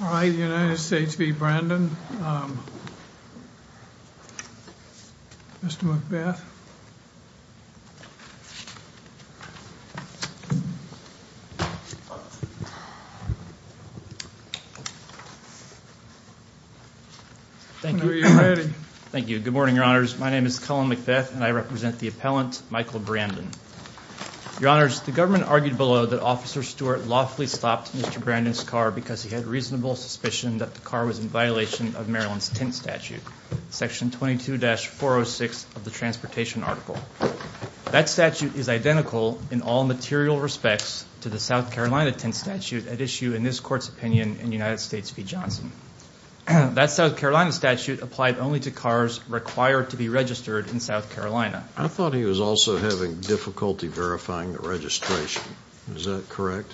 All right, the United States v. Brandon. Mr. McBeth. Thank you. Good morning, Your Honors. My name is Cullen McBeth, and I represent the appellant Michael Brandon. Your Honors, the government argued below that Officer Stewart lawfully stopped Mr. Brandon's car because he had reasonable suspicion that the car was in violation of Maryland's Tint Statute, Section 22-406 of the Transportation Article. That statute is identical in all material respects to the South Carolina Tint Statute at issue in this Court's opinion in United States v. Johnson. That South Carolina statute applied only to cars required to be registered in South Carolina. I thought he was also having difficulty verifying the registration. Is that correct?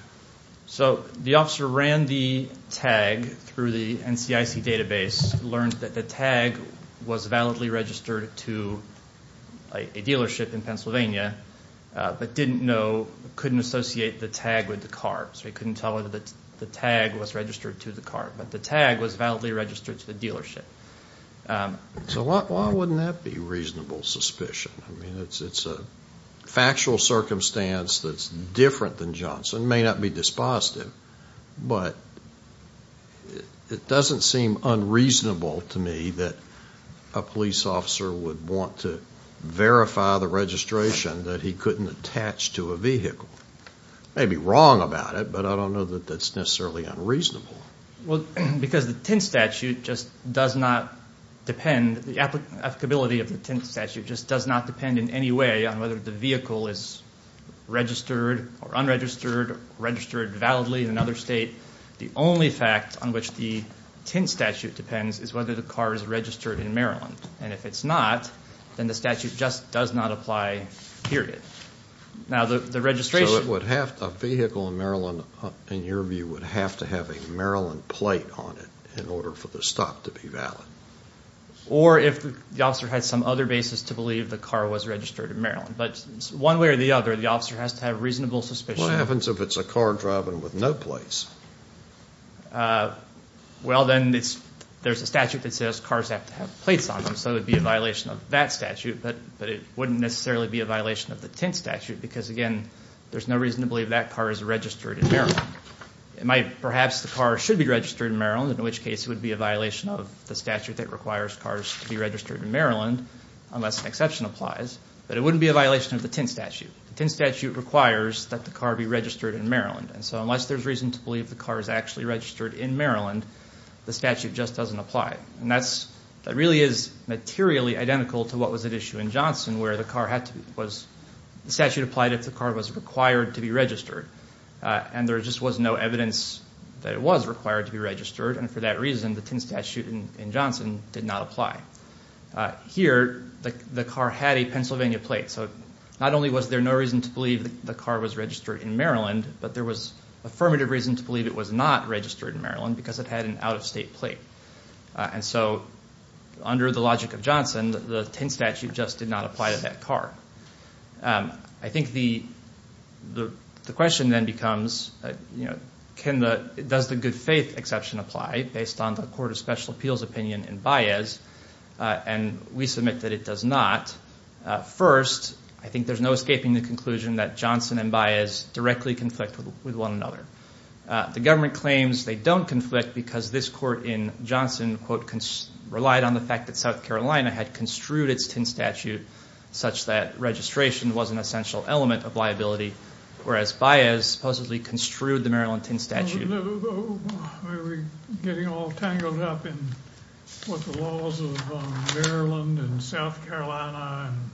So the officer ran the tag through the NCIC database, learned that the tag was validly registered to a dealership in Pennsylvania, but didn't know, couldn't associate the tag with the car. So he couldn't tell whether the tag was registered to the car, but the tag was validly registered to the dealership. So why wouldn't that be reasonable suspicion? It's a factual circumstance that's different than Johnson. May not be dispositive, but it doesn't seem unreasonable to me that a police officer would want to verify the registration that he couldn't attach to a vehicle. May be wrong about it, but I don't know that that's necessarily unreasonable. Well, because the Tint Statute just does not depend, the applicability of the Tint Statute just does not depend in any way on whether the vehicle is registered or unregistered, registered validly in another state. The only fact on which the Tint Statute depends is whether the car is registered in Maryland. And if it's not, then the statute just does not apply, period. Now the registration So it would have to, a vehicle in Maryland, in your view, would have to have a Maryland plate on it in order for the stop to be valid. Or if the officer had some other basis to believe the car was registered in Maryland. But one way or the other, the officer has to have reasonable suspicion. What happens if it's a car driving with no plates? Well, then there's a statute that says cars have to have plates on them. So it would be a violation of that statute, but it wouldn't necessarily be a violation of the Tint Statute because again there's no reason to believe that car is registered in Maryland. It might, perhaps the car should be registered in Maryland, in which case it would be a violation of the statute that requires cars to be registered in Maryland unless an exception applies. But it wouldn't be a violation of the Tint Statute. The Tint Statute requires that the car be registered in Maryland. And so unless there's reason to believe the car is actually registered in Maryland, the statute just doesn't apply. And that's, that really is materially identical to what was at issue in Johnson where the car had to be, was, the statute applied if the car was required to be registered. And there just was no evidence that it was required to be registered. And for that reason, the Tint Statute in Johnson did not apply. Here, the car had a Pennsylvania plate. So not only was there no reason to believe the car was registered in Maryland, but there was affirmative reason to believe it was not registered in Maryland because it had an out-of-state plate. And so under the logic of Johnson, the Tint Statute just did not apply to that car. I think the question then becomes, you know, can the, does the good faith exception apply based on the Court of Special Appeals opinion in Baez? And we submit that it does not. First, I think there's no escaping the conclusion that Johnson and Baez directly conflict with one another. The government claims they don't conflict because this court in Johnson, quote, relied on the fact that South Carolina had construed its Tint Statute such that registration was an essential element of liability, whereas Baez supposedly construed the Maryland Tint Statute. Are we getting all tangled up in what the laws of Maryland and South Carolina and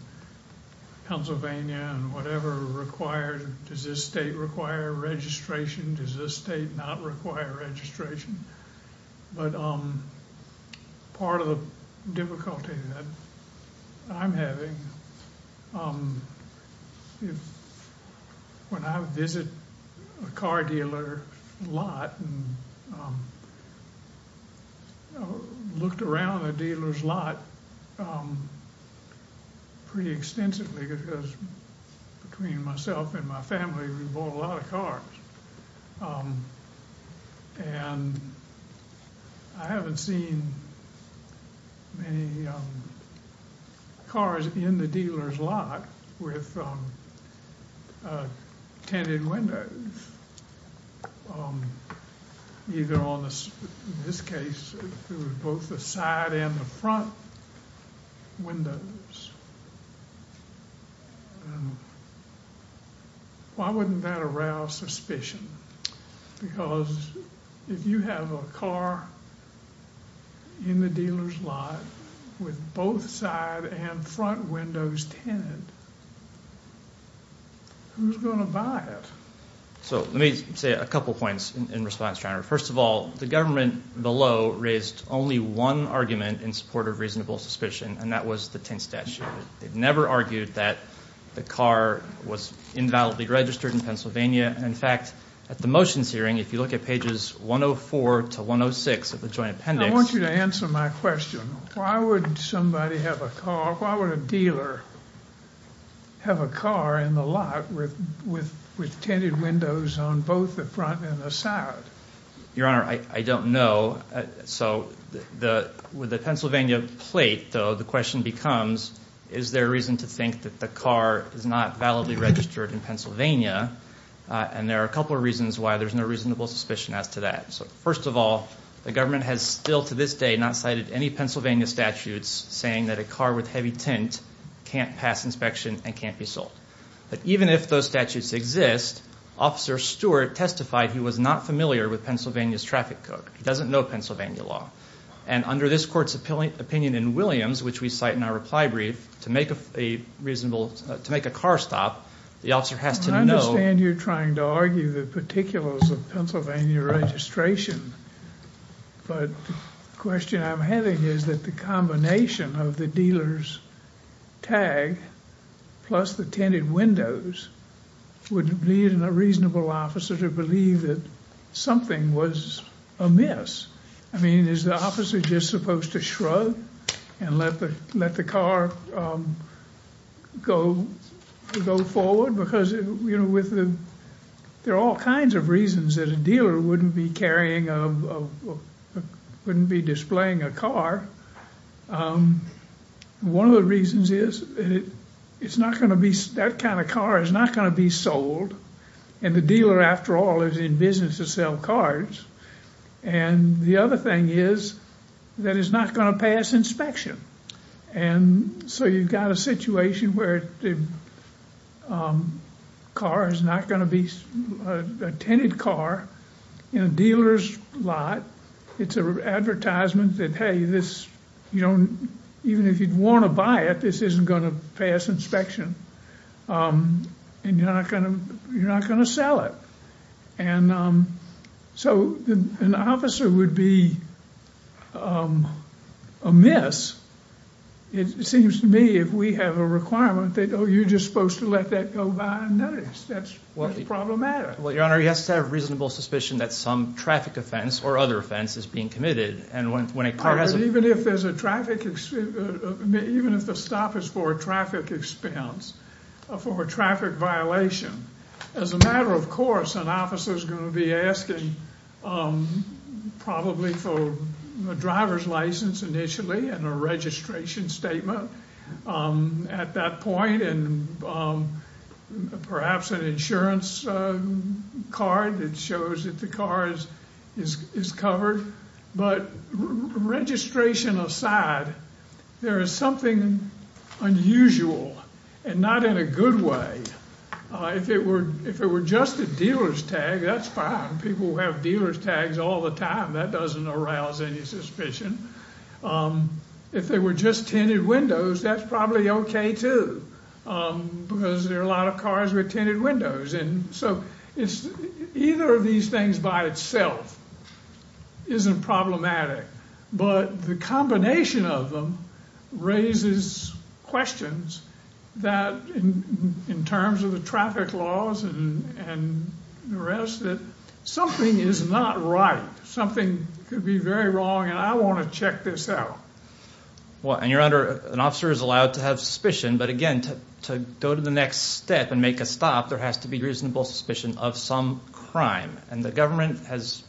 Pennsylvania and whatever require, does this state require registration? Does this state not require registration? But part of the difficulty that I'm having, when I visit a car dealer lot and looked around the dealer's lot pretty extensively because most of the car dealers between myself and my family, we bought a lot of cars, and I haven't seen many cars in the dealer's lot with tinted windows, either on the, in this case, it was both the side and the front windows. Why wouldn't that arouse suspicion? Because if you have a car in the dealer's lot with both side and front windows tinted, who's going to buy it? So let me say a couple points in response, John. First of all, the government below raised only one argument in support of reasonable suspicion, and that was the Tint Statute. They've never argued that the car was invalidly registered in Pennsylvania. In fact, at the motions hearing, if you look at pages 104 to 106 of the Joint Appendix... I want you to answer my question. Why would somebody have a car, why would a dealer have a car in the lot with tinted windows on both the front and the side? Your Honor, I don't know. With the Pennsylvania plate, though, the question becomes, is there reason to think that the car is not validly registered in Pennsylvania? And there are a couple of reasons why there's no reasonable suspicion as to that. First of all, the government has still to this day not cited any Pennsylvania statutes saying that a car with heavy tint can't pass inspection and can't be sold. But even if those statutes exist, Officer Stewart testified he was not familiar with Pennsylvania's traffic code. He doesn't know Pennsylvania law. And under this Court's opinion in Williams, which we cite in our reply brief, to make a reasonable... to make a car stop, the officer has to know... I understand you're trying to argue the particulars of Pennsylvania registration, but the question I'm having is that the combination of the dealer's tag plus the tinted windows would lead a reasonable officer to believe that something was amiss. I mean, is the officer just supposed to shrug and let the car go forward? Because, you know, there are all kinds of reasons that a dealer wouldn't be carrying a... wouldn't be displaying a car. One of the reasons is it's not going to be... that kind of car is not going to be sold. And the dealer, after all, is in business to sell cars. And the other thing is that it's not going to pass inspection. And so you've got a situation where the car is not going to be... a tinted car in a dealer's lot. It's an advertisement that, hey, this is... even if you'd want to buy it, this isn't going to pass inspection. And you're not going to sell it. And so an officer would be amiss, it seems to me, if we have a requirement that, oh, you're just supposed to let that go by and notice. That's problematic. Well, Your Honor, he has to have reasonable suspicion that some traffic offense or other offense is being committed. And when a car has... But even if there's a traffic... even if the stop is for a traffic expense, for a traffic violation, as a matter of course, an officer is going to be asking probably for a driver's license initially and a registration statement at that point, and perhaps an insurance card that shows that the car is covered. But registration aside, there is something unusual and not in a good way. If it were just a dealer's tag, that's fine. People have dealer's tags all the time. That doesn't arouse any suspicion. If they were just tinted windows, that's probably okay, too, because there are a lot of cars with tinted windows. And so either of these things by itself isn't problematic. But the combination of them raises questions that, in terms of the traffic laws and the rest, that something is not right. Something could be very wrong, and I want to check this out. Well, and your honor, an officer is allowed to have suspicion, but again, to go to the next step and make a stop, there has to be reasonable suspicion of some crime. And the government has...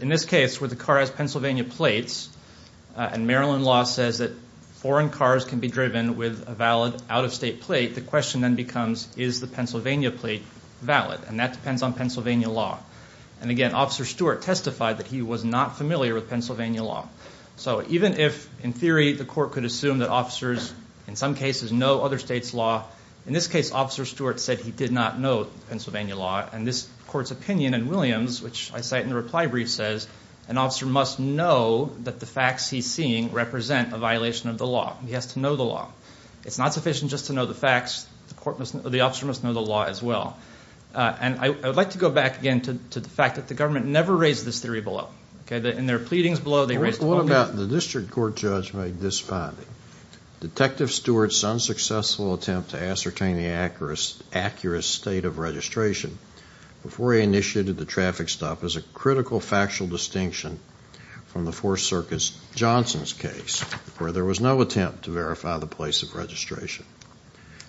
In this case, where the car has Pennsylvania plates, and Maryland law says that foreign cars can be driven with a valid out-of-state plate, the question then becomes is the Pennsylvania plate valid? And that depends on Pennsylvania law. And again, Officer Stewart testified that he was not familiar with Pennsylvania law. So even if, in theory, the court could assume that officers, in some cases, know other states' law, in this case, Officer Stewart said he did not know Pennsylvania law. And this court's opinion in Williams, which I cite in the reply brief, says an officer must know that the facts he's seeing represent a violation of the law. He has to know the law. It's not sufficient just to know the facts. The officer must know the law as well. And I would like to go back again to the fact that the government never raised this theory below. In their pleadings below, they raised it... What about the district court judge made this finding? Detective Stewart's unsuccessful attempt to ascertain the accurate state of registration before he initiated the traffic stop is a critical factual distinction from the Fourth Circuit's Johnson's case, where there was no attempt to verify the place of registration.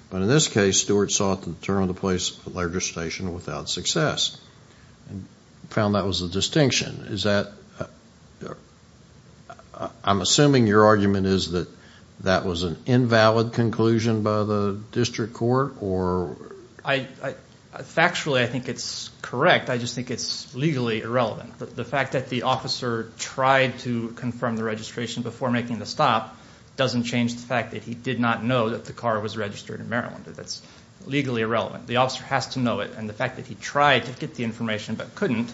But in this case, Stewart sought to determine the place of registration without success, and found that was a distinction. Is that... I'm assuming your argument is that that was an invalid conclusion by the district court, or... Factually, I think it's correct. I just think it's legally irrelevant. The fact that the officer tried to confirm the registration before making the stop doesn't change the fact that he did not know that the car was registered in Maryland. That's legally irrelevant. The officer has to know it, and the fact that he tried to get the information but couldn't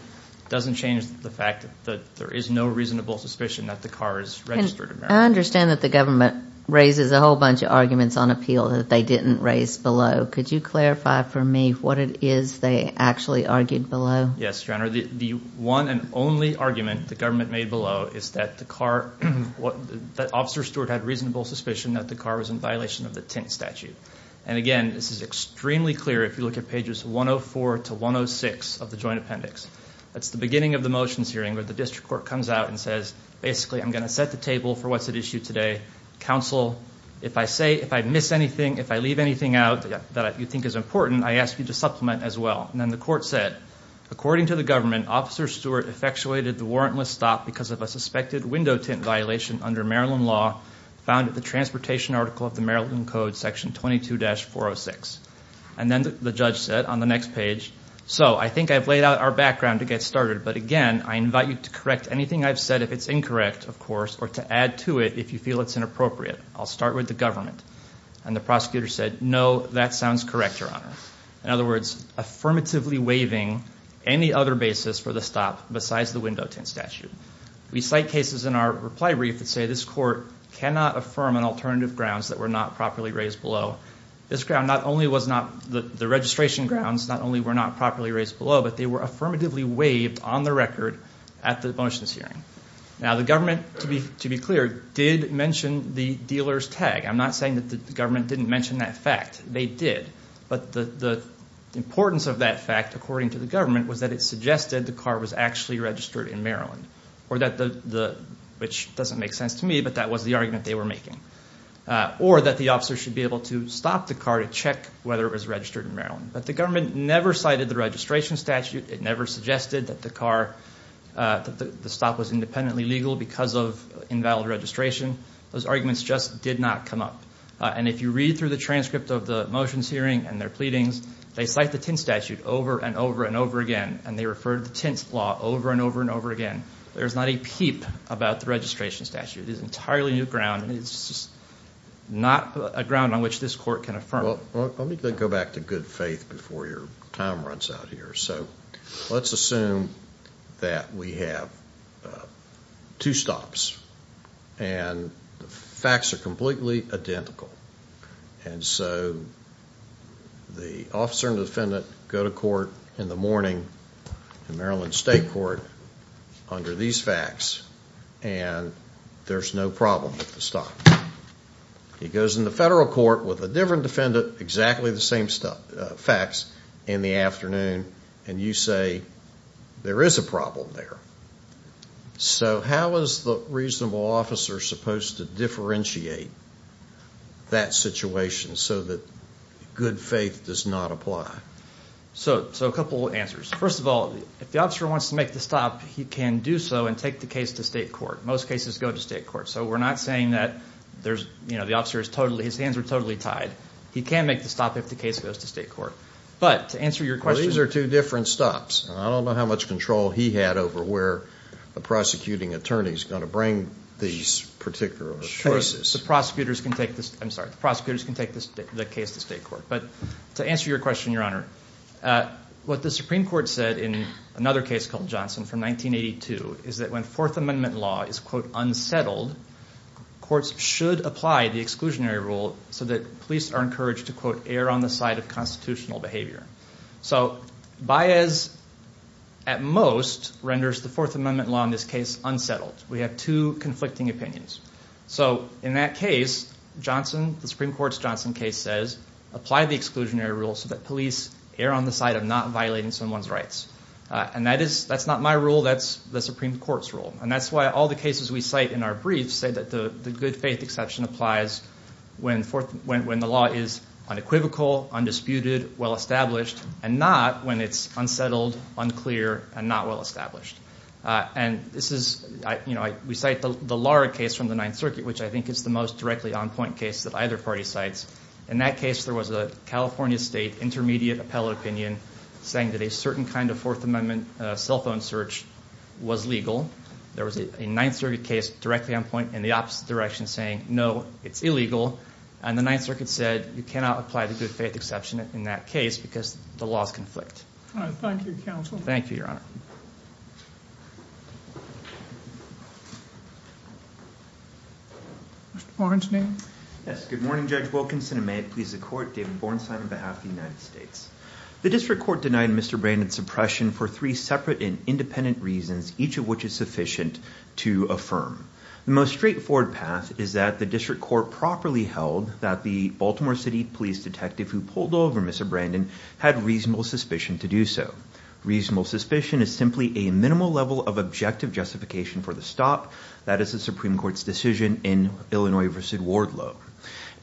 doesn't change the fact that there is no reasonable suspicion that the car is registered in Maryland. I understand that the government raises a whole bunch of arguments on appeal that they didn't raise below. Could you clarify for me what it is they actually argued below? Yes, Your Honor. The one and only argument the government made below is that the car... Officer Stewart had reasonable suspicion that the car was in violation of the tint statute. And again, this is extremely clear if you look at pages 104 to 106 of the joint appendix. That's the beginning of the motions hearing where the district court comes out and says, basically, I'm going to set the table for what's at issue today. Counsel, if I say... If I miss anything, if I leave anything out that you think is important, I ask you to supplement as well. And then the court said, according to the government, Officer Stewart effectuated the warrantless stop because of a suspected window tint violation under Maryland law found at the transportation article of the Maryland Code section 22-406. And then the judge said on the next page, so I think I've laid out our background to get started. But again, I invite you to correct anything I've said if it's incorrect, of course, or to add to it if you feel it's inappropriate. I'll start with the government. And the prosecutor said, no, that sounds correct, Your Honor. In other words, affirmatively waiving any other basis for the stop besides the window tint statute. We cite cases in our reply brief that say this court cannot affirm on alternative grounds that were not properly raised below. This ground not only was not... The registration grounds not only were not properly raised below, but they were affirmatively waived on the record at the motions hearing. Now, the government, to be clear, did mention the dealer's tag. I'm not saying that the government didn't mention that fact. They did. But the importance of that fact, according to the government, was that it suggested the car was actually registered in Maryland. Or that the... Which doesn't make sense to me, but that was the argument they were making. Or that the officer should be able to stop the car to check whether it was registered in Maryland. But the government never cited the registration statute. It never suggested that the car... That the stop was independently legal because of invalid registration. Those arguments just did not come up. And if you read through the transcript of the motions hearing and their pleadings, they cite the tint statute over and over and over again. And they refer to the tint law over and over and over again. There's not a peep about the registration statute. It's an entirely new ground. It's just not a ground on which this court can affirm. Well, let me go back to good faith before your time runs out here. So let's assume that we have two stops. And the facts are completely identical. And so the officer and the defendant go to court in the morning in Maryland State Court under these facts. And there's no problem with the stop. He goes in the federal court with a different defendant, exactly the same facts, in the afternoon. And you say, there is a problem there. So how is the reasonable officer supposed to differentiate that situation so that good faith does not apply? So a couple answers. First of all, if the officer wants to make the stop, he can do so and take the case to state court. Most cases go to state court. So we're not saying that the officer is totally... His hands are totally tied. He can make the stop if the case goes to state court. But to answer your question... Well, these are two different stops. I don't know how much control he had over where the prosecuting attorney is going to bring these particular choices. The prosecutors can take the case to state court. But to answer your question, Your Honor, what the Supreme Court said in another case called Johnson from 1982 is that when Fourth Amendment law is, quote, unsettled, courts should apply the exclusionary rule so that police are encouraged to, quote, err on the side of constitutional behavior. So Baez, at most, renders the Fourth Amendment law in this case unsettled. We have two conflicting opinions. So in that case, Johnson, the Supreme Court's Johnson case says, apply the exclusionary rule so that police err on the side of not violating someone's rights. And that's not my rule. That's the Supreme Court's rule. And that's why all the cases we cite in our briefs say that the good faith exception applies when the law is unequivocal, undisputed, well-established, and not when it's unsettled, unclear, and not well-established. And this is, you know, we cite the Lara case from the Ninth Circuit, which I think is the most directly on-point case that either party cites. In that case, there was a California state intermediate appellate opinion saying that a certain kind of Fourth Amendment cell phone search was illegal. There was a Ninth Circuit case directly on-point in the opposite direction saying, no, it's illegal. And the Ninth Circuit said, you cannot apply the good faith exception in that case because the laws conflict. All right. Thank you, counsel. Thank you, Your Honor. Mr. Borenstein? Yes. Good morning, Judge Wilkinson. And may it please the Court, David Borenstein on behalf of the United States. The district court denied Mr. Brandon's oppression for three separate and independent reasons, each of which is sufficient to affirm. The most straightforward path is that the district court properly held that the Baltimore City police detective who pulled over Mr. Brandon had reasonable suspicion to do so. Reasonable suspicion is simply a minimal level of objective justification for the stop that is the Supreme Court's decision in Illinois v. Wardlow.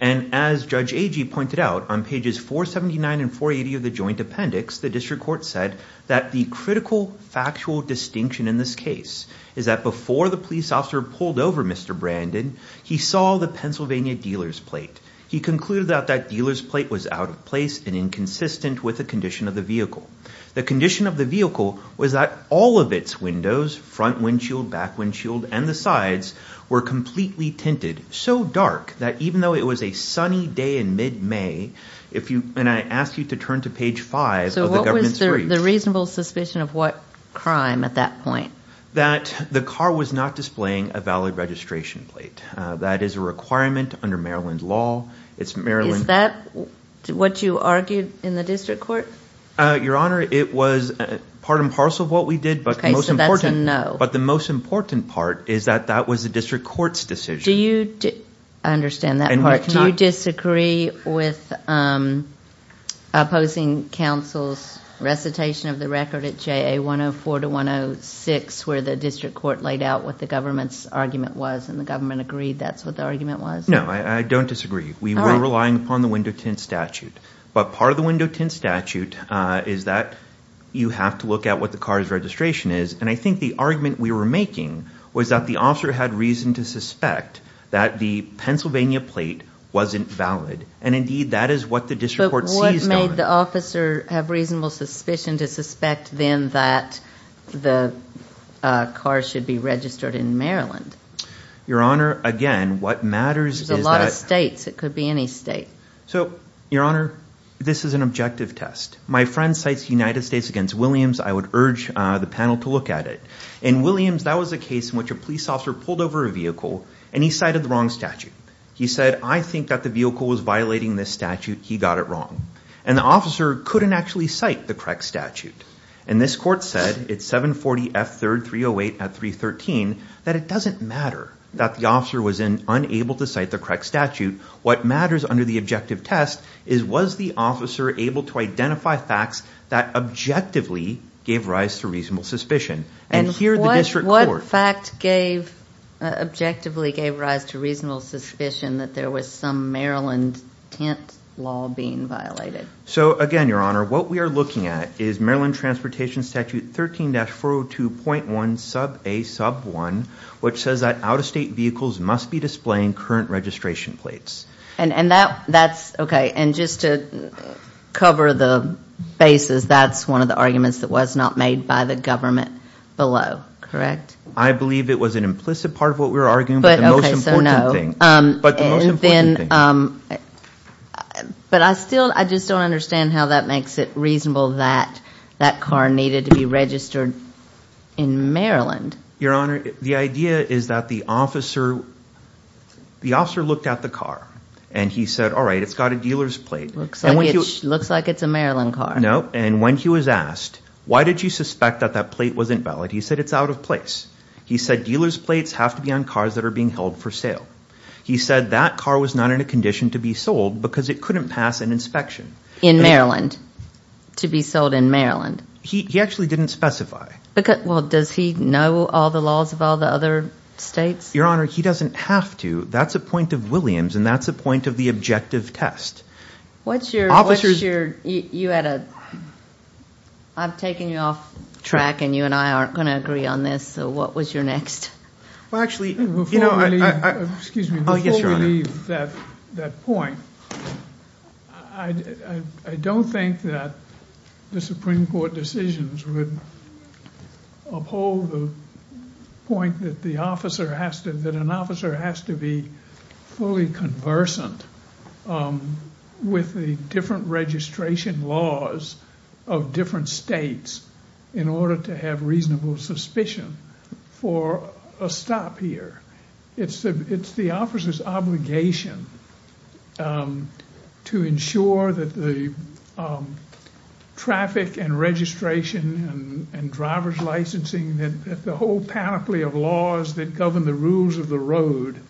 And as Judge Agee pointed out, on pages 479 and 480 of the joint appendix, the district court said that the critical factual distinction in this case is that before the police officer pulled over Mr. Brandon, he saw the Pennsylvania dealer's plate. He concluded that that dealer's plate was out of place and inconsistent with the condition of the vehicle. The condition of the vehicle was that all of its windows, front windshield, back windshield, and the sides were completely tinted, so dark that even though it was a sunny day in mid-May, if you, and I ask you to turn to page five of the government's brief. So what was the reasonable suspicion of what crime at that point? That the car was not displaying a valid registration plate. That is a requirement under Maryland law. Is that what you argued in the district court? Your Honor, it was part and parcel of what we did, but the most important part is that that was the district court's decision. Do you, I understand that part. Do you disagree with opposing counsel's recitation of the record at JA 104-106 where the district court laid out what the government's argument was and the government agreed that's what the argument was? No, I don't disagree. We were relying upon the window tint statute, but part of the window tint statute is that you have to look at what the car's registration is, and I think the argument we were making was that the officer had reason to suspect that the Pennsylvania plate wasn't valid, and indeed, that is what the district court seized on. But what made the officer have reasonable suspicion to suspect then that the car should be registered in Maryland? Your Honor, again, what matters is that- There's a lot of states. It could be any state. So, Your Honor, this is an objective test. My friend cites United States against Williams. I would urge the panel to look at it. In Williams, that was a case in which a police officer pulled over a vehicle, and he cited the wrong statute. He said, I think that the vehicle was violating this statute. He got it wrong, and the officer couldn't actually cite the correct statute, and this court said at 740 F 3rd 308 at 313 that it doesn't matter that the officer was unable to cite the correct statute. What matters under the objective test is was the officer able to identify facts that objectively gave rise to reasonable suspicion, and here the district court- What fact gave, objectively gave rise to reasonable suspicion that there was some Maryland tent law being violated? So, again, Your Honor, what we are looking at is Maryland Transportation Statute 13-402.1 sub A sub 1, which says that out-of-state vehicles must be displaying current registration plates. And that's, okay, and just to cover the bases, that's one of the arguments that was not made by the government below, correct? I believe it was an implicit part of what we were arguing, but the most important thing. But I still, I just don't understand how that makes it reasonable that that car needed to be registered in Maryland. Your Honor, the idea is that the officer looked at the car and he said, all right, it's got a dealer's plate. Looks like it's a Maryland car. No, and when he was asked, why did you suspect that that plate wasn't valid, he said it's out of place. He said dealer's plates have to be on cars that are being held for sale. He said that car was not in a condition to be sold because it couldn't pass an inspection. In Maryland, to be sold in Maryland. He actually didn't specify. Well, does he know all the laws of all the other states? Your Honor, he doesn't have to. That's a point of Williams, and that's a point of the objective test. What's your, you had a, I'm taking you off track and you and I aren't going to agree on this, so what was your next? Well, actually, before we leave that point, I don't think that the Supreme Court decisions would uphold the point that the officer has to, that an officer has to be fully conversant with the different registration laws of different states in order to have reasonable suspicion for a stop here. It's the officer's obligation to ensure that the traffic and registration and driver's licensing, that the whole panoply of laws that govern the rules of the road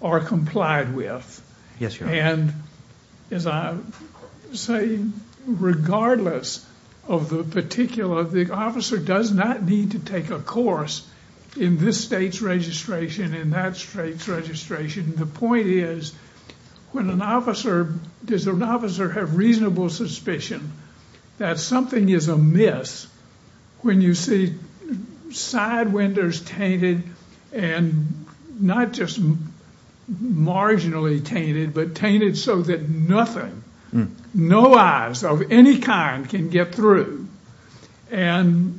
are complied with. Yes, Your Honor. And as I say, regardless of the particular, the officer does not need to take a course in this state's registration and that state's registration. The point is, when an officer, does an officer have reasonable suspicion that something is amiss when you see side windows tainted and not just marginally tainted, but tainted so that nothing, no eyes of any kind can get through and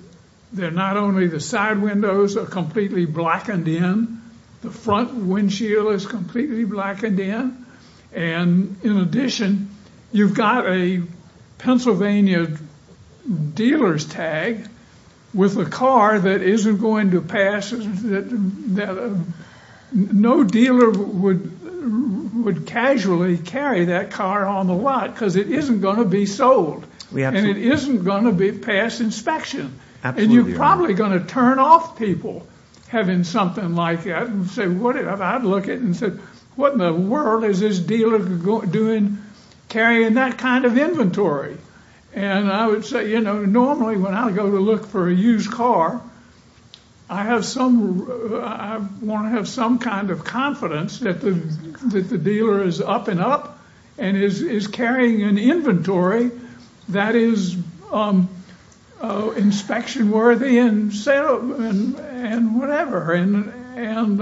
they're not only the side windows are completely blackened in, the front windows windshield is completely blackened in, and in addition, you've got a Pennsylvania dealer's tag with a car that isn't going to pass, that no dealer would casually carry that car on the lot because it isn't going to be sold. And it isn't going to be passed inspection. Absolutely, Your Honor. And you're probably going to turn off people having something like that and say, what in the world is this dealer carrying that kind of inventory? And I would say, you know, normally when I go to look for a used car, I want to have some kind of confidence that the dealer is up and up and is carrying an inventory that is inspection worthy and whatever. And,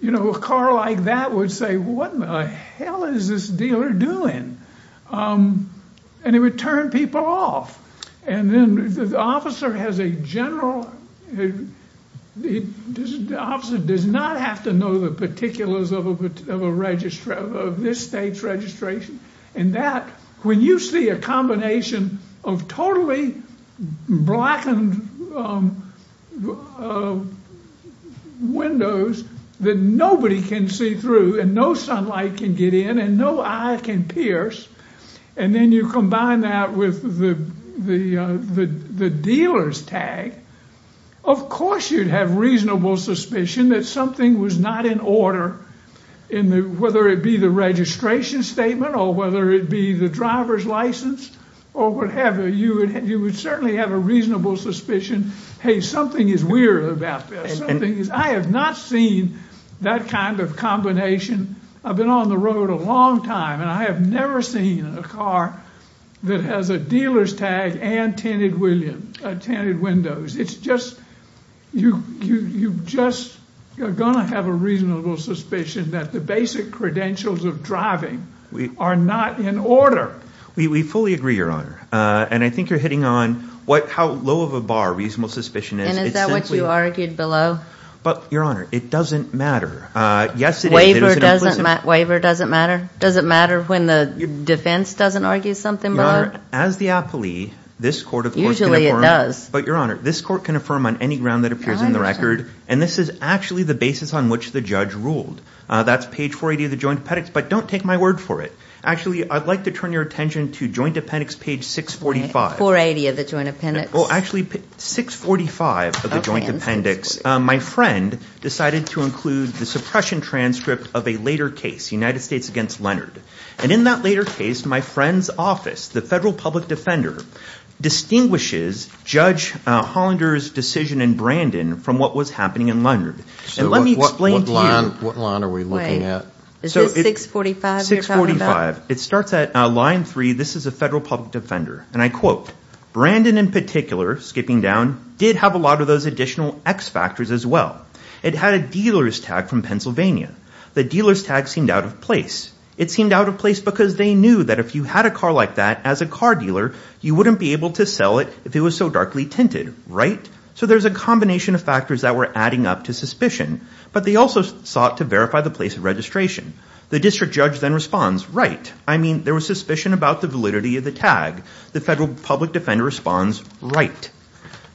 you know, a car like that would say, what in the hell is this dealer doing? And it would turn people off. And then the officer has a general, the officer does not have to know the particulars of this state's registration and that, when you see a combination of totally blackened windows that nobody can see through and no sunlight can get in and no eye can pierce, and then you combine that with the dealer's tag, of course you'd have reasonable suspicion that something was not in order in the, whether it be the registration statement or whether it be the driver's license or whatever, you would certainly have a reasonable suspicion, hey, something is weird about this. I have not seen that kind of combination. I've been on the road a long time and I have never seen a car that has a dealer's tag and tinted windows. It's just, you're just going to have a reasonable suspicion that the basic credentials of driving are not in order. We fully agree, Your Honor. And I think you're hitting on what, how low of a bar reasonable suspicion is. And is that what you argued below? But Your Honor, it doesn't matter. Waiver doesn't matter? Does it matter when the defense doesn't argue something below? Your Honor, as the appellee, this court of course can affirm, but Your Honor, this court can affirm on any ground that appears in the record and this is actually the basis on which the judge ruled. That's page 480 of the Joint Appendix, but don't take my word for it. Actually, I'd like to turn your attention to Joint Appendix page 645. 480 of the Joint Appendix. Well, actually, 645 of the Joint Appendix. My friend decided to include the suppression transcript of a later case, United States against Leonard. And in that later case, my friend's office, the Federal Public Defender, distinguishes Judge Hollander's decision in Brandon from what was happening in Leonard. And let me explain to you. What line are we looking at? Is this 645 you're talking about? 645. It starts at line 3. This is a Federal Public Defender. And I quote, Brandon in particular, skipping down, did have a lot of those additional X factors as well. It had a dealer's tag from Pennsylvania. The dealer's tag seemed out of place. It seemed out of place because they knew that if you had a car like that as a car dealer, you wouldn't be able to sell it if it was so darkly tinted, right? So there's a combination of factors that were adding up to suspicion. But they also sought to verify the place of registration. The district judge then responds, right. I mean, there was suspicion about the validity of the tag. The Federal Public Defender responds, right.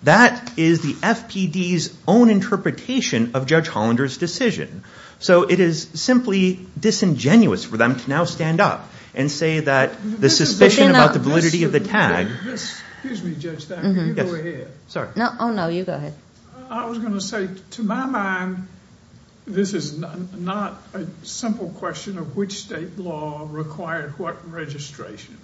That is the FPD's own interpretation of Judge Hollander's decision. So it is simply disingenuous for them to now stand up and say that the suspicion about the validity of the tag. Excuse me, Judge Thacker. You go ahead. Oh no, you go ahead. I was going to say, to my mind, this is not a simple question of which state law required what registration.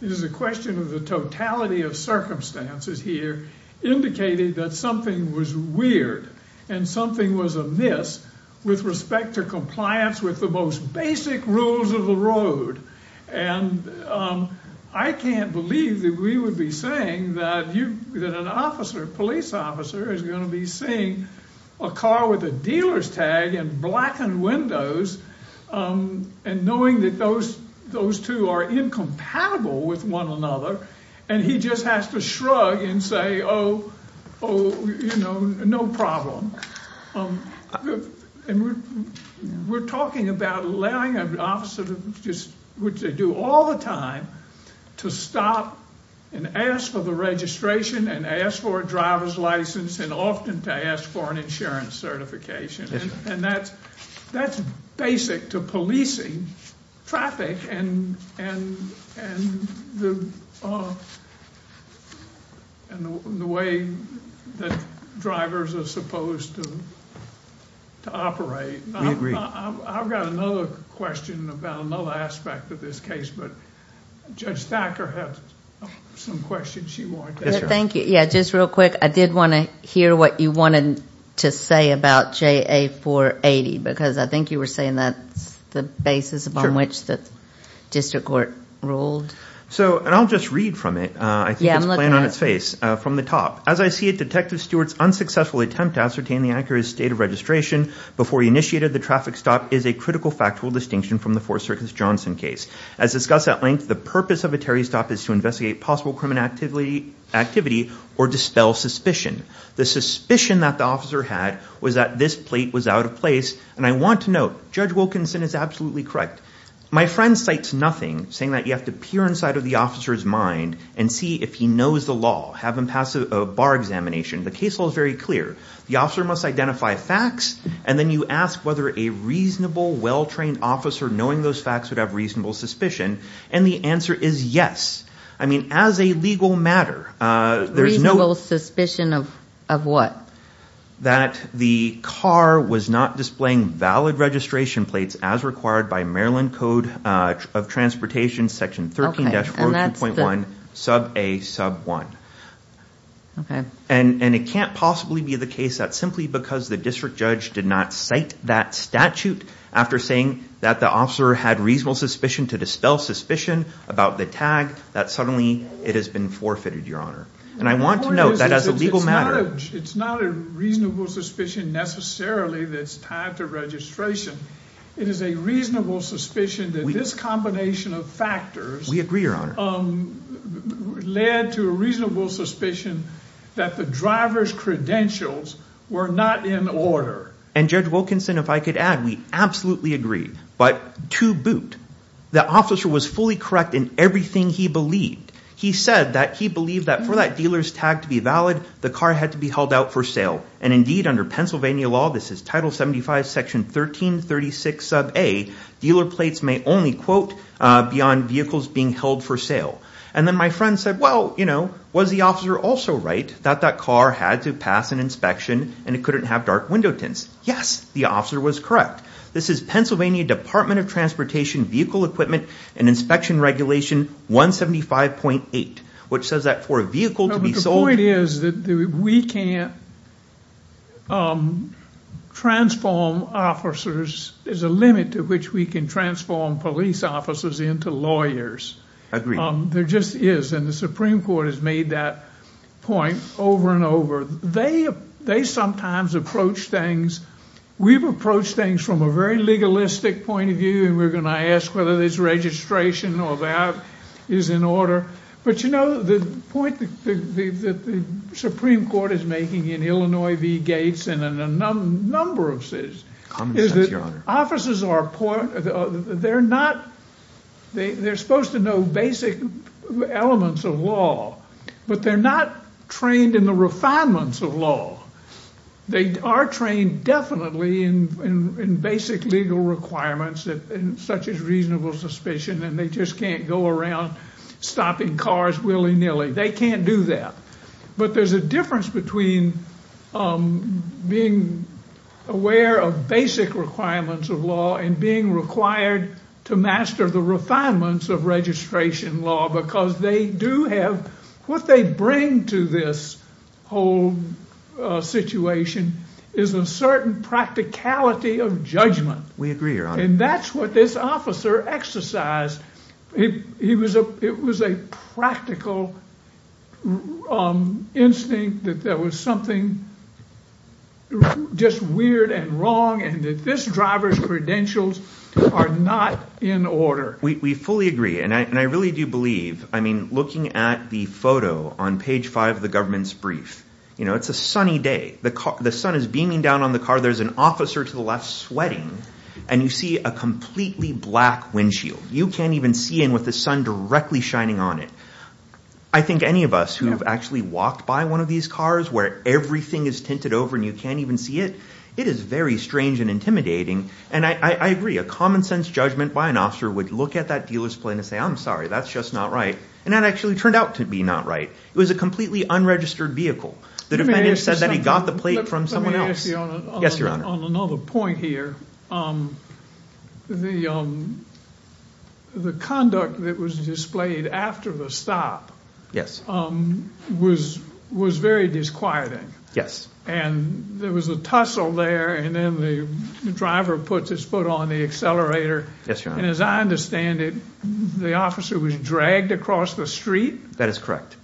It is a question of the totality of circumstances here indicated that something was weird and something was amiss with respect to compliance with the most basic rules of the road. And I can't believe that we would be saying that an officer, a police officer, is going to be seeing a car with a dealer's tag and blackened windows and knowing that those two are incompatible with one another, and he just has to shrug and say, oh, no problem. And we're talking about allowing an officer, which they do all the time, to stop and ask for the registration and ask for a driver's license and often to ask for an insurance certification. And that's basic to policing traffic and the way that drivers are supposed to operate. I've got another question about another aspect of this case, but Judge Thacker has some questions she wanted to ask. Thank you. Yeah, just real quick, I did want to hear what you wanted to say about JA 480, because I think you were saying that's the basis upon which the district court ruled. So, and I'll just read from it. I think it's playing on its face. Yeah, I'm looking at it. The district court's unsuccessful attempt to ascertain the accurate state of registration before he initiated the traffic stop is a critical factual distinction from the Fourth Circus Johnson case. As discussed at length, the purpose of a Terry stop is to investigate possible criminal activity or dispel suspicion. The suspicion that the officer had was that this plate was out of place. And I want to note, Judge Wilkinson is absolutely correct. My friend cites nothing saying that you have to peer inside of the officer's mind and see if he knows the law, have him pass a bar examination. The case law is very clear. The officer must identify facts, and then you ask whether a reasonable, well-trained officer knowing those facts would have reasonable suspicion. And the answer is yes. I mean, as a legal matter, there's no... Reasonable suspicion of what? That the car was not displaying valid registration plates as required by Maryland Code of Transportation, Section 13-42.1, Sub A, Sub 1. And it can't possibly be the case that simply because the district judge did not cite that statute after saying that the officer had reasonable suspicion to dispel suspicion about the tag, that suddenly it has been forfeited, Your Honor. And I want to note that as a legal matter... It's not a reasonable suspicion necessarily that's tied to registration. It is a reasonable suspicion that this combination of factors... We agree, Your Honor. Led to a reasonable suspicion that the driver's credentials were not in order. And Judge Wilkinson, if I could add, we absolutely agree. But to boot, the officer was fully correct in everything he believed. He said that he believed that for that dealer's tag to be valid, the car had to be held out for sale. And indeed, under Pennsylvania law, this is Title 75, Section 13-36, Sub A, dealer plates may only, quote, be on vehicles being held for sale. And then my friend said, well, you know, was the officer also right that that car had to pass an inspection and it couldn't have dark window tints? Yes, the officer was correct. This is Pennsylvania Department of Transportation Vehicle Equipment and Inspection Regulation 175.8, which says that for a vehicle to be sold... transform officers is a limit to which we can transform police officers into lawyers. I agree. There just is. And the Supreme Court has made that point over and over. They sometimes approach things... We've approached things from a very legalistic point of view, and we're going to ask whether this registration or that is in order. But you know, the point that the Supreme Court is making in Illinois v. Gates and in a number of cities... Common sense, Your Honor. ...is that officers are... They're not... They're supposed to know basic elements of law, but they're not trained in the refinements of law. They are trained definitely in basic legal requirements such as reasonable suspicion, and they just can't go around stopping cars willy-nilly. They can't do that. But there's a difference between being aware of basic requirements of law and being required to master the refinements of registration law because they do have... What they bring to this whole situation is a certain practicality of judgment. We agree, Your Honor. And that's what this officer exercised. It was a practical instinct that there was something just weird and wrong and that this driver's credentials are not in order. We fully agree, and I really do believe... I mean, looking at the photo on page 5 of the government's brief, you know, it's a sunny day. The sun is beaming down on the car. There's an officer to the left sweating, and you see a completely black windshield. You can't even see in with the sun directly shining on it. I think any of us who have actually walked by one of these cars where everything is tinted over and you can't even see it, it is very strange and intimidating. And I agree. A common-sense judgment by an officer would look at that dealer's plate and say, I'm sorry, that's just not right. And that actually turned out to be not right. It was a completely unregistered vehicle. The defendant said that he got the plate from someone else. Yes, Your Honor. On another point here, the conduct that was displayed after the stop was very disquieting. Yes. And there was a tussle there, and then the driver puts his foot on the accelerator. Yes, Your Honor. And as I understand it, the officer was dragged across the street? That is correct.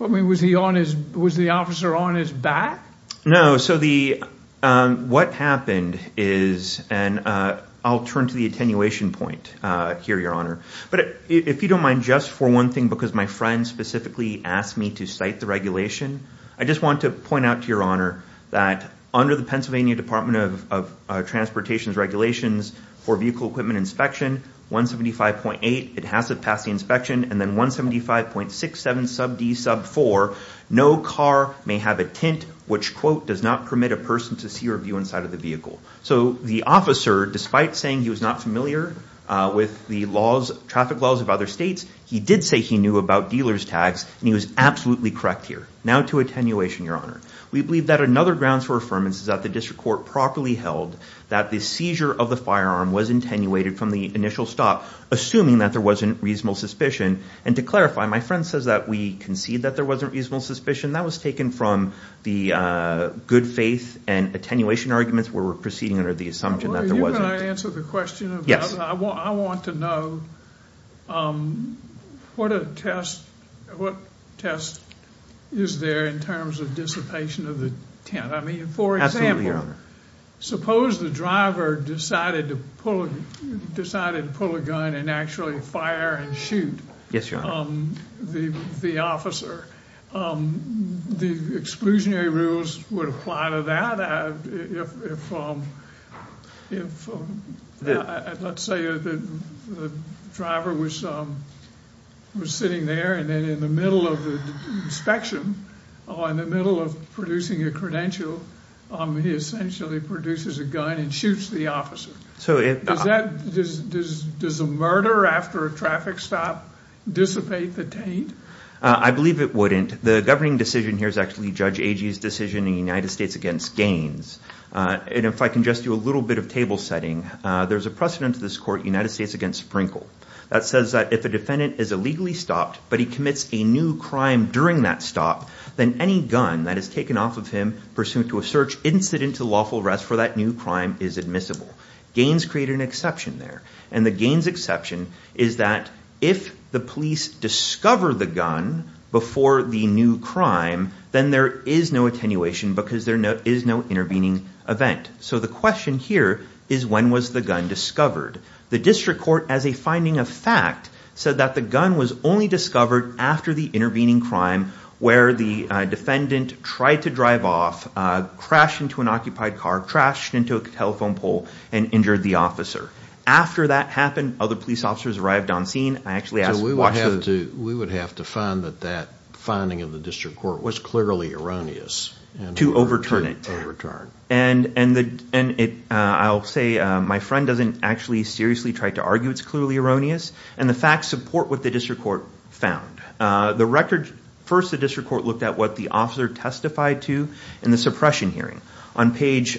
I mean, was the officer on his back? No. So what happened is, and I'll turn to the attenuation point here, Your Honor. But if you don't mind, just for one thing, because my friend specifically asked me to cite the regulation, I just want to point out to Your Honor that under the Pennsylvania Department of Transportation's regulations for vehicle equipment inspection, 175.8, it has to pass the inspection, and then 175.67 sub D sub 4, no car may have a tint, which, quote, does not permit a person to see or view inside of the vehicle. So the officer, despite saying he was not familiar with the traffic laws of other states, he did say he knew about dealer's tags, and he was absolutely correct here. Now to attenuation, Your Honor. We believe that another grounds for affirmance is that the district court properly held that the seizure of the firearm was attenuated from the initial stop, assuming that there wasn't reasonable suspicion. And to clarify, my friend says that we concede that there wasn't reasonable suspicion. That was taken from the good faith and attenuation arguments where we're proceeding under the assumption that there wasn't. Are you going to answer the question? I want to know what test is there in terms of dissipation of the tint? Absolutely, Your Honor. Suppose the driver decided to pull a gun and actually fire and shoot the officer. The exclusionary rules would apply to that. If, let's say, the driver was sitting there, and then in the middle of the inspection, in the middle of producing a credential, he essentially produces a gun and shoots the officer. Does a murder after a traffic stop dissipate the tint? I believe it wouldn't. The governing decision here is actually Judge Agee's decision in the United States against Gaines. And if I can just do a little bit of table setting, there's a precedent to this court, United States against Sprinkle. That says that if a defendant is illegally stopped, but he commits a new crime during that stop, then any gun that is taken off of him pursuant to a search incident to lawful arrest for that new crime is admissible. Gaines created an exception there. And the Gaines exception is that if the police discover the gun before the new crime, then there is no attenuation because there is no intervening event. So the question here is when was the gun discovered? The district court, as a finding of fact, said that the gun was only discovered after the intervening crime where the defendant tried to drive off, crashed into an occupied car, crashed into a telephone pole, and injured the officer. After that happened, other police officers arrived on scene. So we would have to find that that finding of the district court was clearly erroneous. To overturn it. To overturn. And I'll say my friend doesn't actually seriously try to argue it's clearly erroneous. And the facts support what the district court found. The record, first the district court looked at what the officer testified to in the suppression hearing. On page,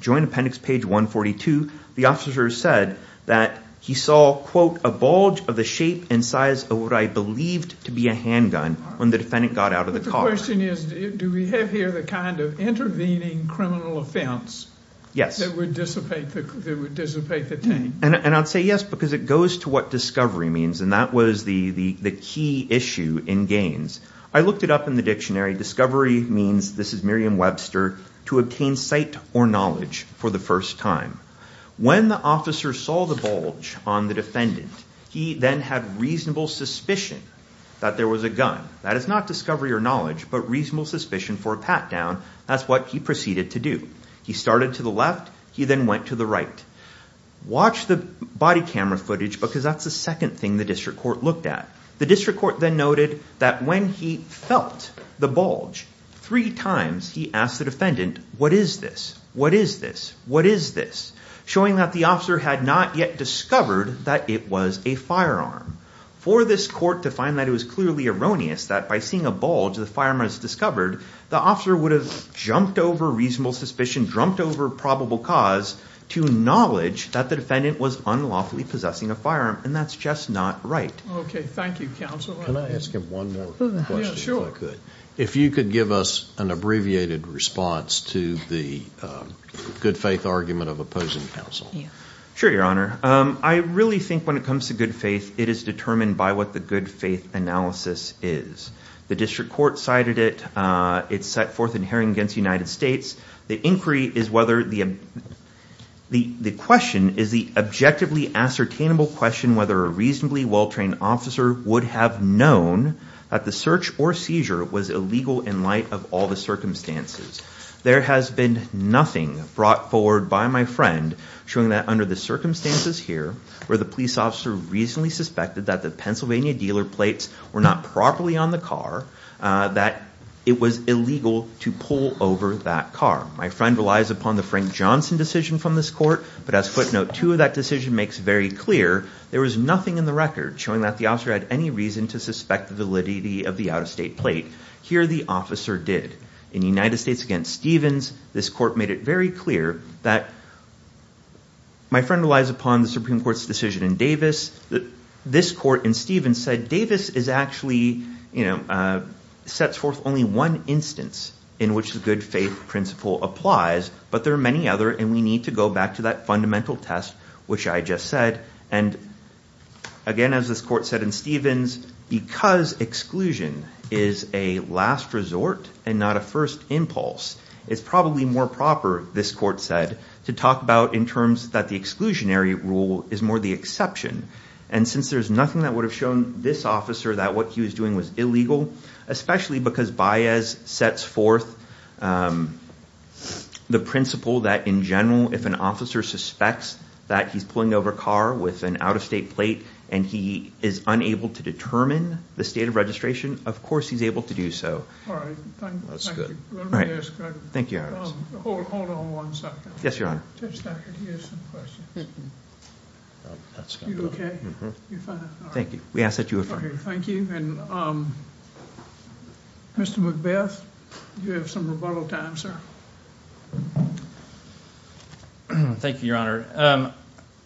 joint appendix page 142, the officer said that he saw, quote, a bulge of the shape and size of what I believed to be a handgun when the defendant got out of the car. My question is do we have here the kind of intervening criminal offense that would dissipate the team? And I'd say yes because it goes to what discovery means. And that was the key issue in Gaines. I looked it up in the dictionary. Discovery means, this is Merriam-Webster, to obtain sight or knowledge for the first time. When the officer saw the bulge on the defendant, he then had reasonable suspicion that there was a gun. That is not discovery or knowledge, but reasonable suspicion for a pat down. That's what he proceeded to do. He started to the left. He then went to the right. Watch the body camera footage because that's the second thing the district court looked at. The district court then noted that when he felt the bulge three times, he asked the defendant, what is this? What is this? What is this? Showing that the officer had not yet discovered that it was a firearm. For this court to find that it was clearly erroneous that by seeing a bulge, the firearm was discovered, the officer would have jumped over reasonable suspicion, jumped over probable cause to knowledge that the defendant was unlawfully possessing a firearm. And that's just not right. Okay. Thank you, counsel. Can I ask him one more question if I could? If you could give us an abbreviated response to the good faith argument of opposing counsel. Sure, your honor. I really think when it comes to good faith, it is determined by what the good faith analysis is. The district court cited it. It's set forth in herring against the United States. The inquiry is whether the question is the objectively ascertainable question whether a reasonably well-trained officer would have known that the search or seizure was illegal in light of all the circumstances. There has been nothing brought forward by my friend showing that under the circumstances here, where the police officer reasonably suspected that the Pennsylvania dealer plates were not properly on the car, that it was illegal to pull over that car. My friend relies upon the Frank Johnson decision from this court, but as footnote two of that decision makes very clear, there was nothing in the record showing that the officer had any reason to suspect the validity of the out-of-state plate. Here the officer did. In the United States against Stevens, this court made it very clear that my friend relies upon the Supreme Court's decision in Davis. This court in Stevens said Davis is actually, you know, sets forth only one instance in which the good faith principle applies, but there are many other, and we need to go back to that fundamental test, which I just said. And again, as this court said in Stevens, because exclusion is a last resort and not a first impulse, it's probably more proper, this court said, to talk about in terms that the exclusionary rule is more the exception. And since there's nothing that would have shown this officer that what he was doing was illegal, especially because Baez sets forth the principle that in general, if an officer suspects that he's pulling over a car with an out-of-state plate and he is unable to determine the state of registration, of course he's able to do so. All right, thank you. Thank you. Hold on one second. Yes, Your Honor. Just a second. He has some questions. You okay? Thank you. We ask that you affirm. Thank you. And Mr. McBeth, you have some rebuttal time, sir. Thank you, Your Honor.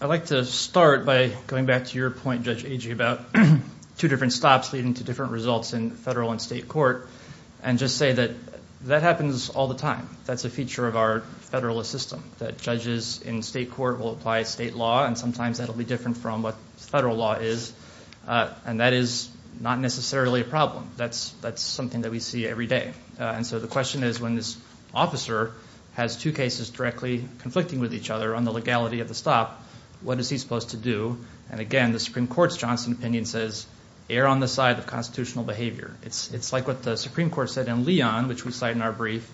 I'd like to start by going back to your point, Judge Agee, about two different stops leading to different results in federal and state court and just say that that happens all the time. That's a feature of our federalist system, that judges in state court will apply state law, and sometimes that will be different from what federal law is. And that is not necessarily a problem. That's something that we see every day. And so the question is when this officer has two cases directly conflicting with each other on the legality of the stop, what is he supposed to do? And again, the Supreme Court's Johnson opinion says, err on the side of constitutional behavior. It's like what the Supreme Court said in Leon, which we cite in our brief.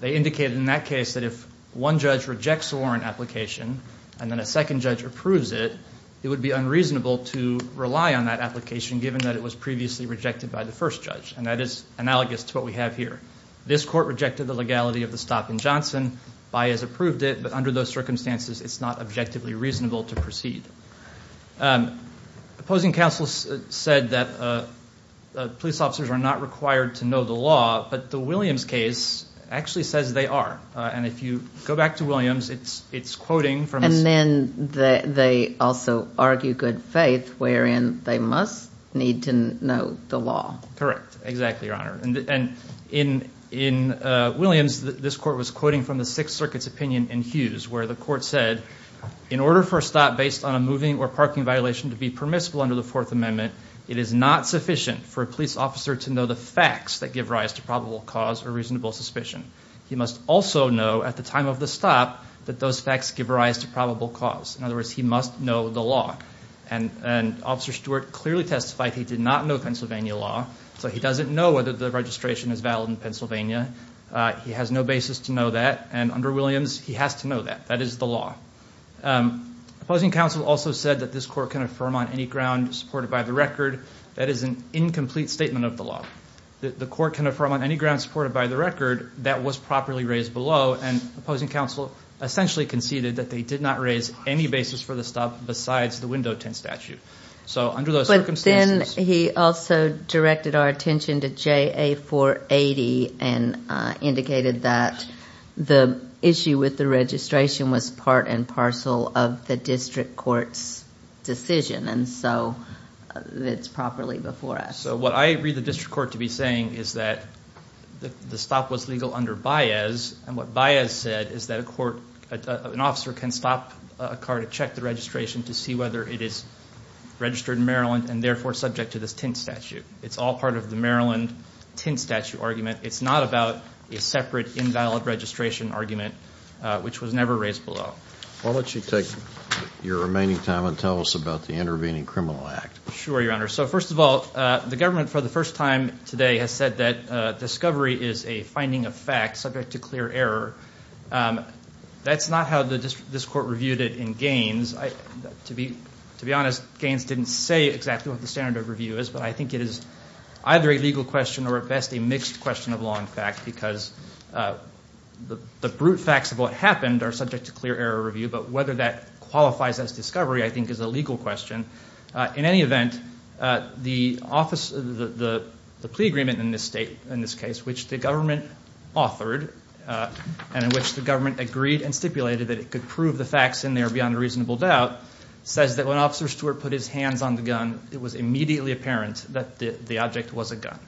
They indicated in that case that if one judge rejects a warrant application and then a second judge approves it, it would be unreasonable to rely on that application given that it was previously rejected by the first judge. And that is analogous to what we have here. This court rejected the legality of the stop in Johnson. Bias approved it. But under those circumstances, it's not objectively reasonable to proceed. Opposing counsel said that police officers are not required to know the law, but the Williams case actually says they are. And if you go back to Williams, it's quoting from this. And then they also argue good faith, wherein they must need to know the law. Correct. Exactly, Your Honor. And in Williams, this court was quoting from the Sixth Circuit's opinion in Hughes where the court said, in order for a stop based on a moving or parking violation to be permissible under the Fourth Amendment, it is not sufficient for a police officer to know the facts that give rise to probable cause or reasonable suspicion. He must also know at the time of the stop that those facts give rise to probable cause. In other words, he must know the law. And Officer Stewart clearly testified he did not know Pennsylvania law, so he doesn't know whether the registration is valid in Pennsylvania. He has no basis to know that. And under Williams, he has to know that. That is the law. Opposing counsel also said that this court can affirm on any ground supported by the record. That is an incomplete statement of the law. The court can affirm on any ground supported by the record that was properly raised below, and opposing counsel essentially conceded that they did not raise any basis for the stop besides the window tint statute. So under those circumstances. But then he also directed our attention to JA 480 and indicated that the issue with the registration was part and parcel of the district court's decision, and so it's properly before us. So what I read the district court to be saying is that the stop was legal under Baez, and what Baez said is that an officer can stop a car to check the registration to see whether it is registered in Maryland and therefore subject to this tint statute. It's all part of the Maryland tint statute argument. It's not about a separate invalid registration argument, which was never raised below. Why don't you take your remaining time and tell us about the Intervening Criminal Act. Sure, Your Honor. So first of all, the government for the first time today has said that discovery is a finding of fact subject to clear error. That's not how this court reviewed it in Gaines. To be honest, Gaines didn't say exactly what the standard of review is, but I think it is either a legal question or at best a mixed question of law and fact because the brute facts of what happened are subject to clear error review, but whether that qualifies as discovery I think is a legal question. In any event, the plea agreement in this case, which the government authored and in which the government agreed and stipulated that it could prove the facts in there beyond a reasonable doubt, says that when Officer Stewart put his hands on the gun, it was immediately apparent that the object was a gun.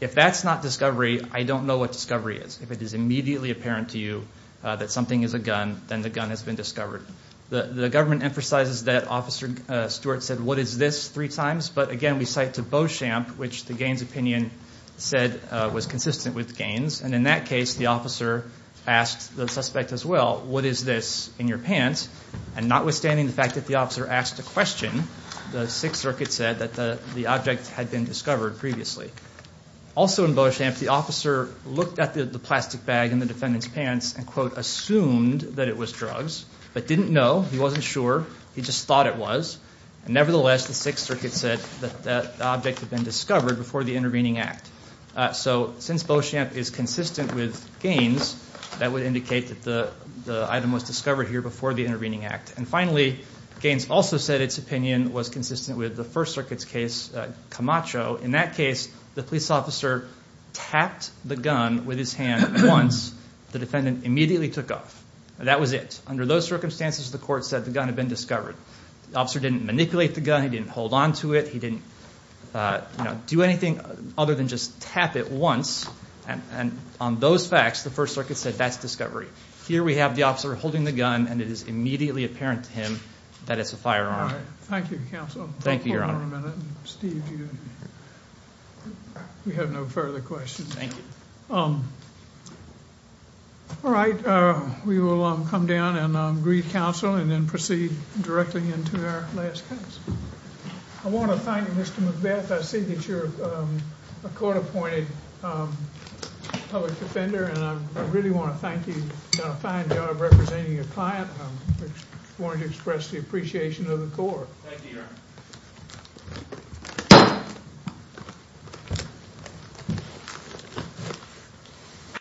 If that's not discovery, I don't know what discovery is. If it is immediately apparent to you that something is a gun, then the gun has been discovered. The government emphasizes that Officer Stewart said, what is this, three times, but again we cite to Beauchamp, which the Gaines opinion said was consistent with Gaines, and in that case the officer asked the suspect as well, what is this in your pants, and notwithstanding the fact that the officer asked a question, the Sixth Circuit said that the object had been discovered previously. Also in Beauchamp, the officer looked at the plastic bag in the defendant's pants and, quote, assumed that it was drugs, but didn't know. He wasn't sure. He just thought it was. Nevertheless, the Sixth Circuit said that the object had been discovered before the intervening act. So since Beauchamp is consistent with Gaines, that would indicate that the item was discovered here before the intervening act. And finally, Gaines also said its opinion was consistent with the First Circuit's case, Camacho. In that case, the police officer tapped the gun with his hand once. The defendant immediately took off. That was it. Under those circumstances, the court said the gun had been discovered. The officer didn't manipulate the gun. He didn't hold on to it. He didn't do anything other than just tap it once. And on those facts, the First Circuit said that's discovery. Here we have the officer holding the gun, and it is immediately apparent to him that it's a firearm. All right. Thank you, Counsel. Thank you, Your Honor. Steve, we have no further questions. All right. We will come down and greet counsel and then proceed directly into our last case. I want to thank you, Mr. McBeth. I see that you're a court-appointed public defender, and I really want to thank you for a fine job representing your client. I wanted to express the appreciation of the court. Thank you, Your Honor.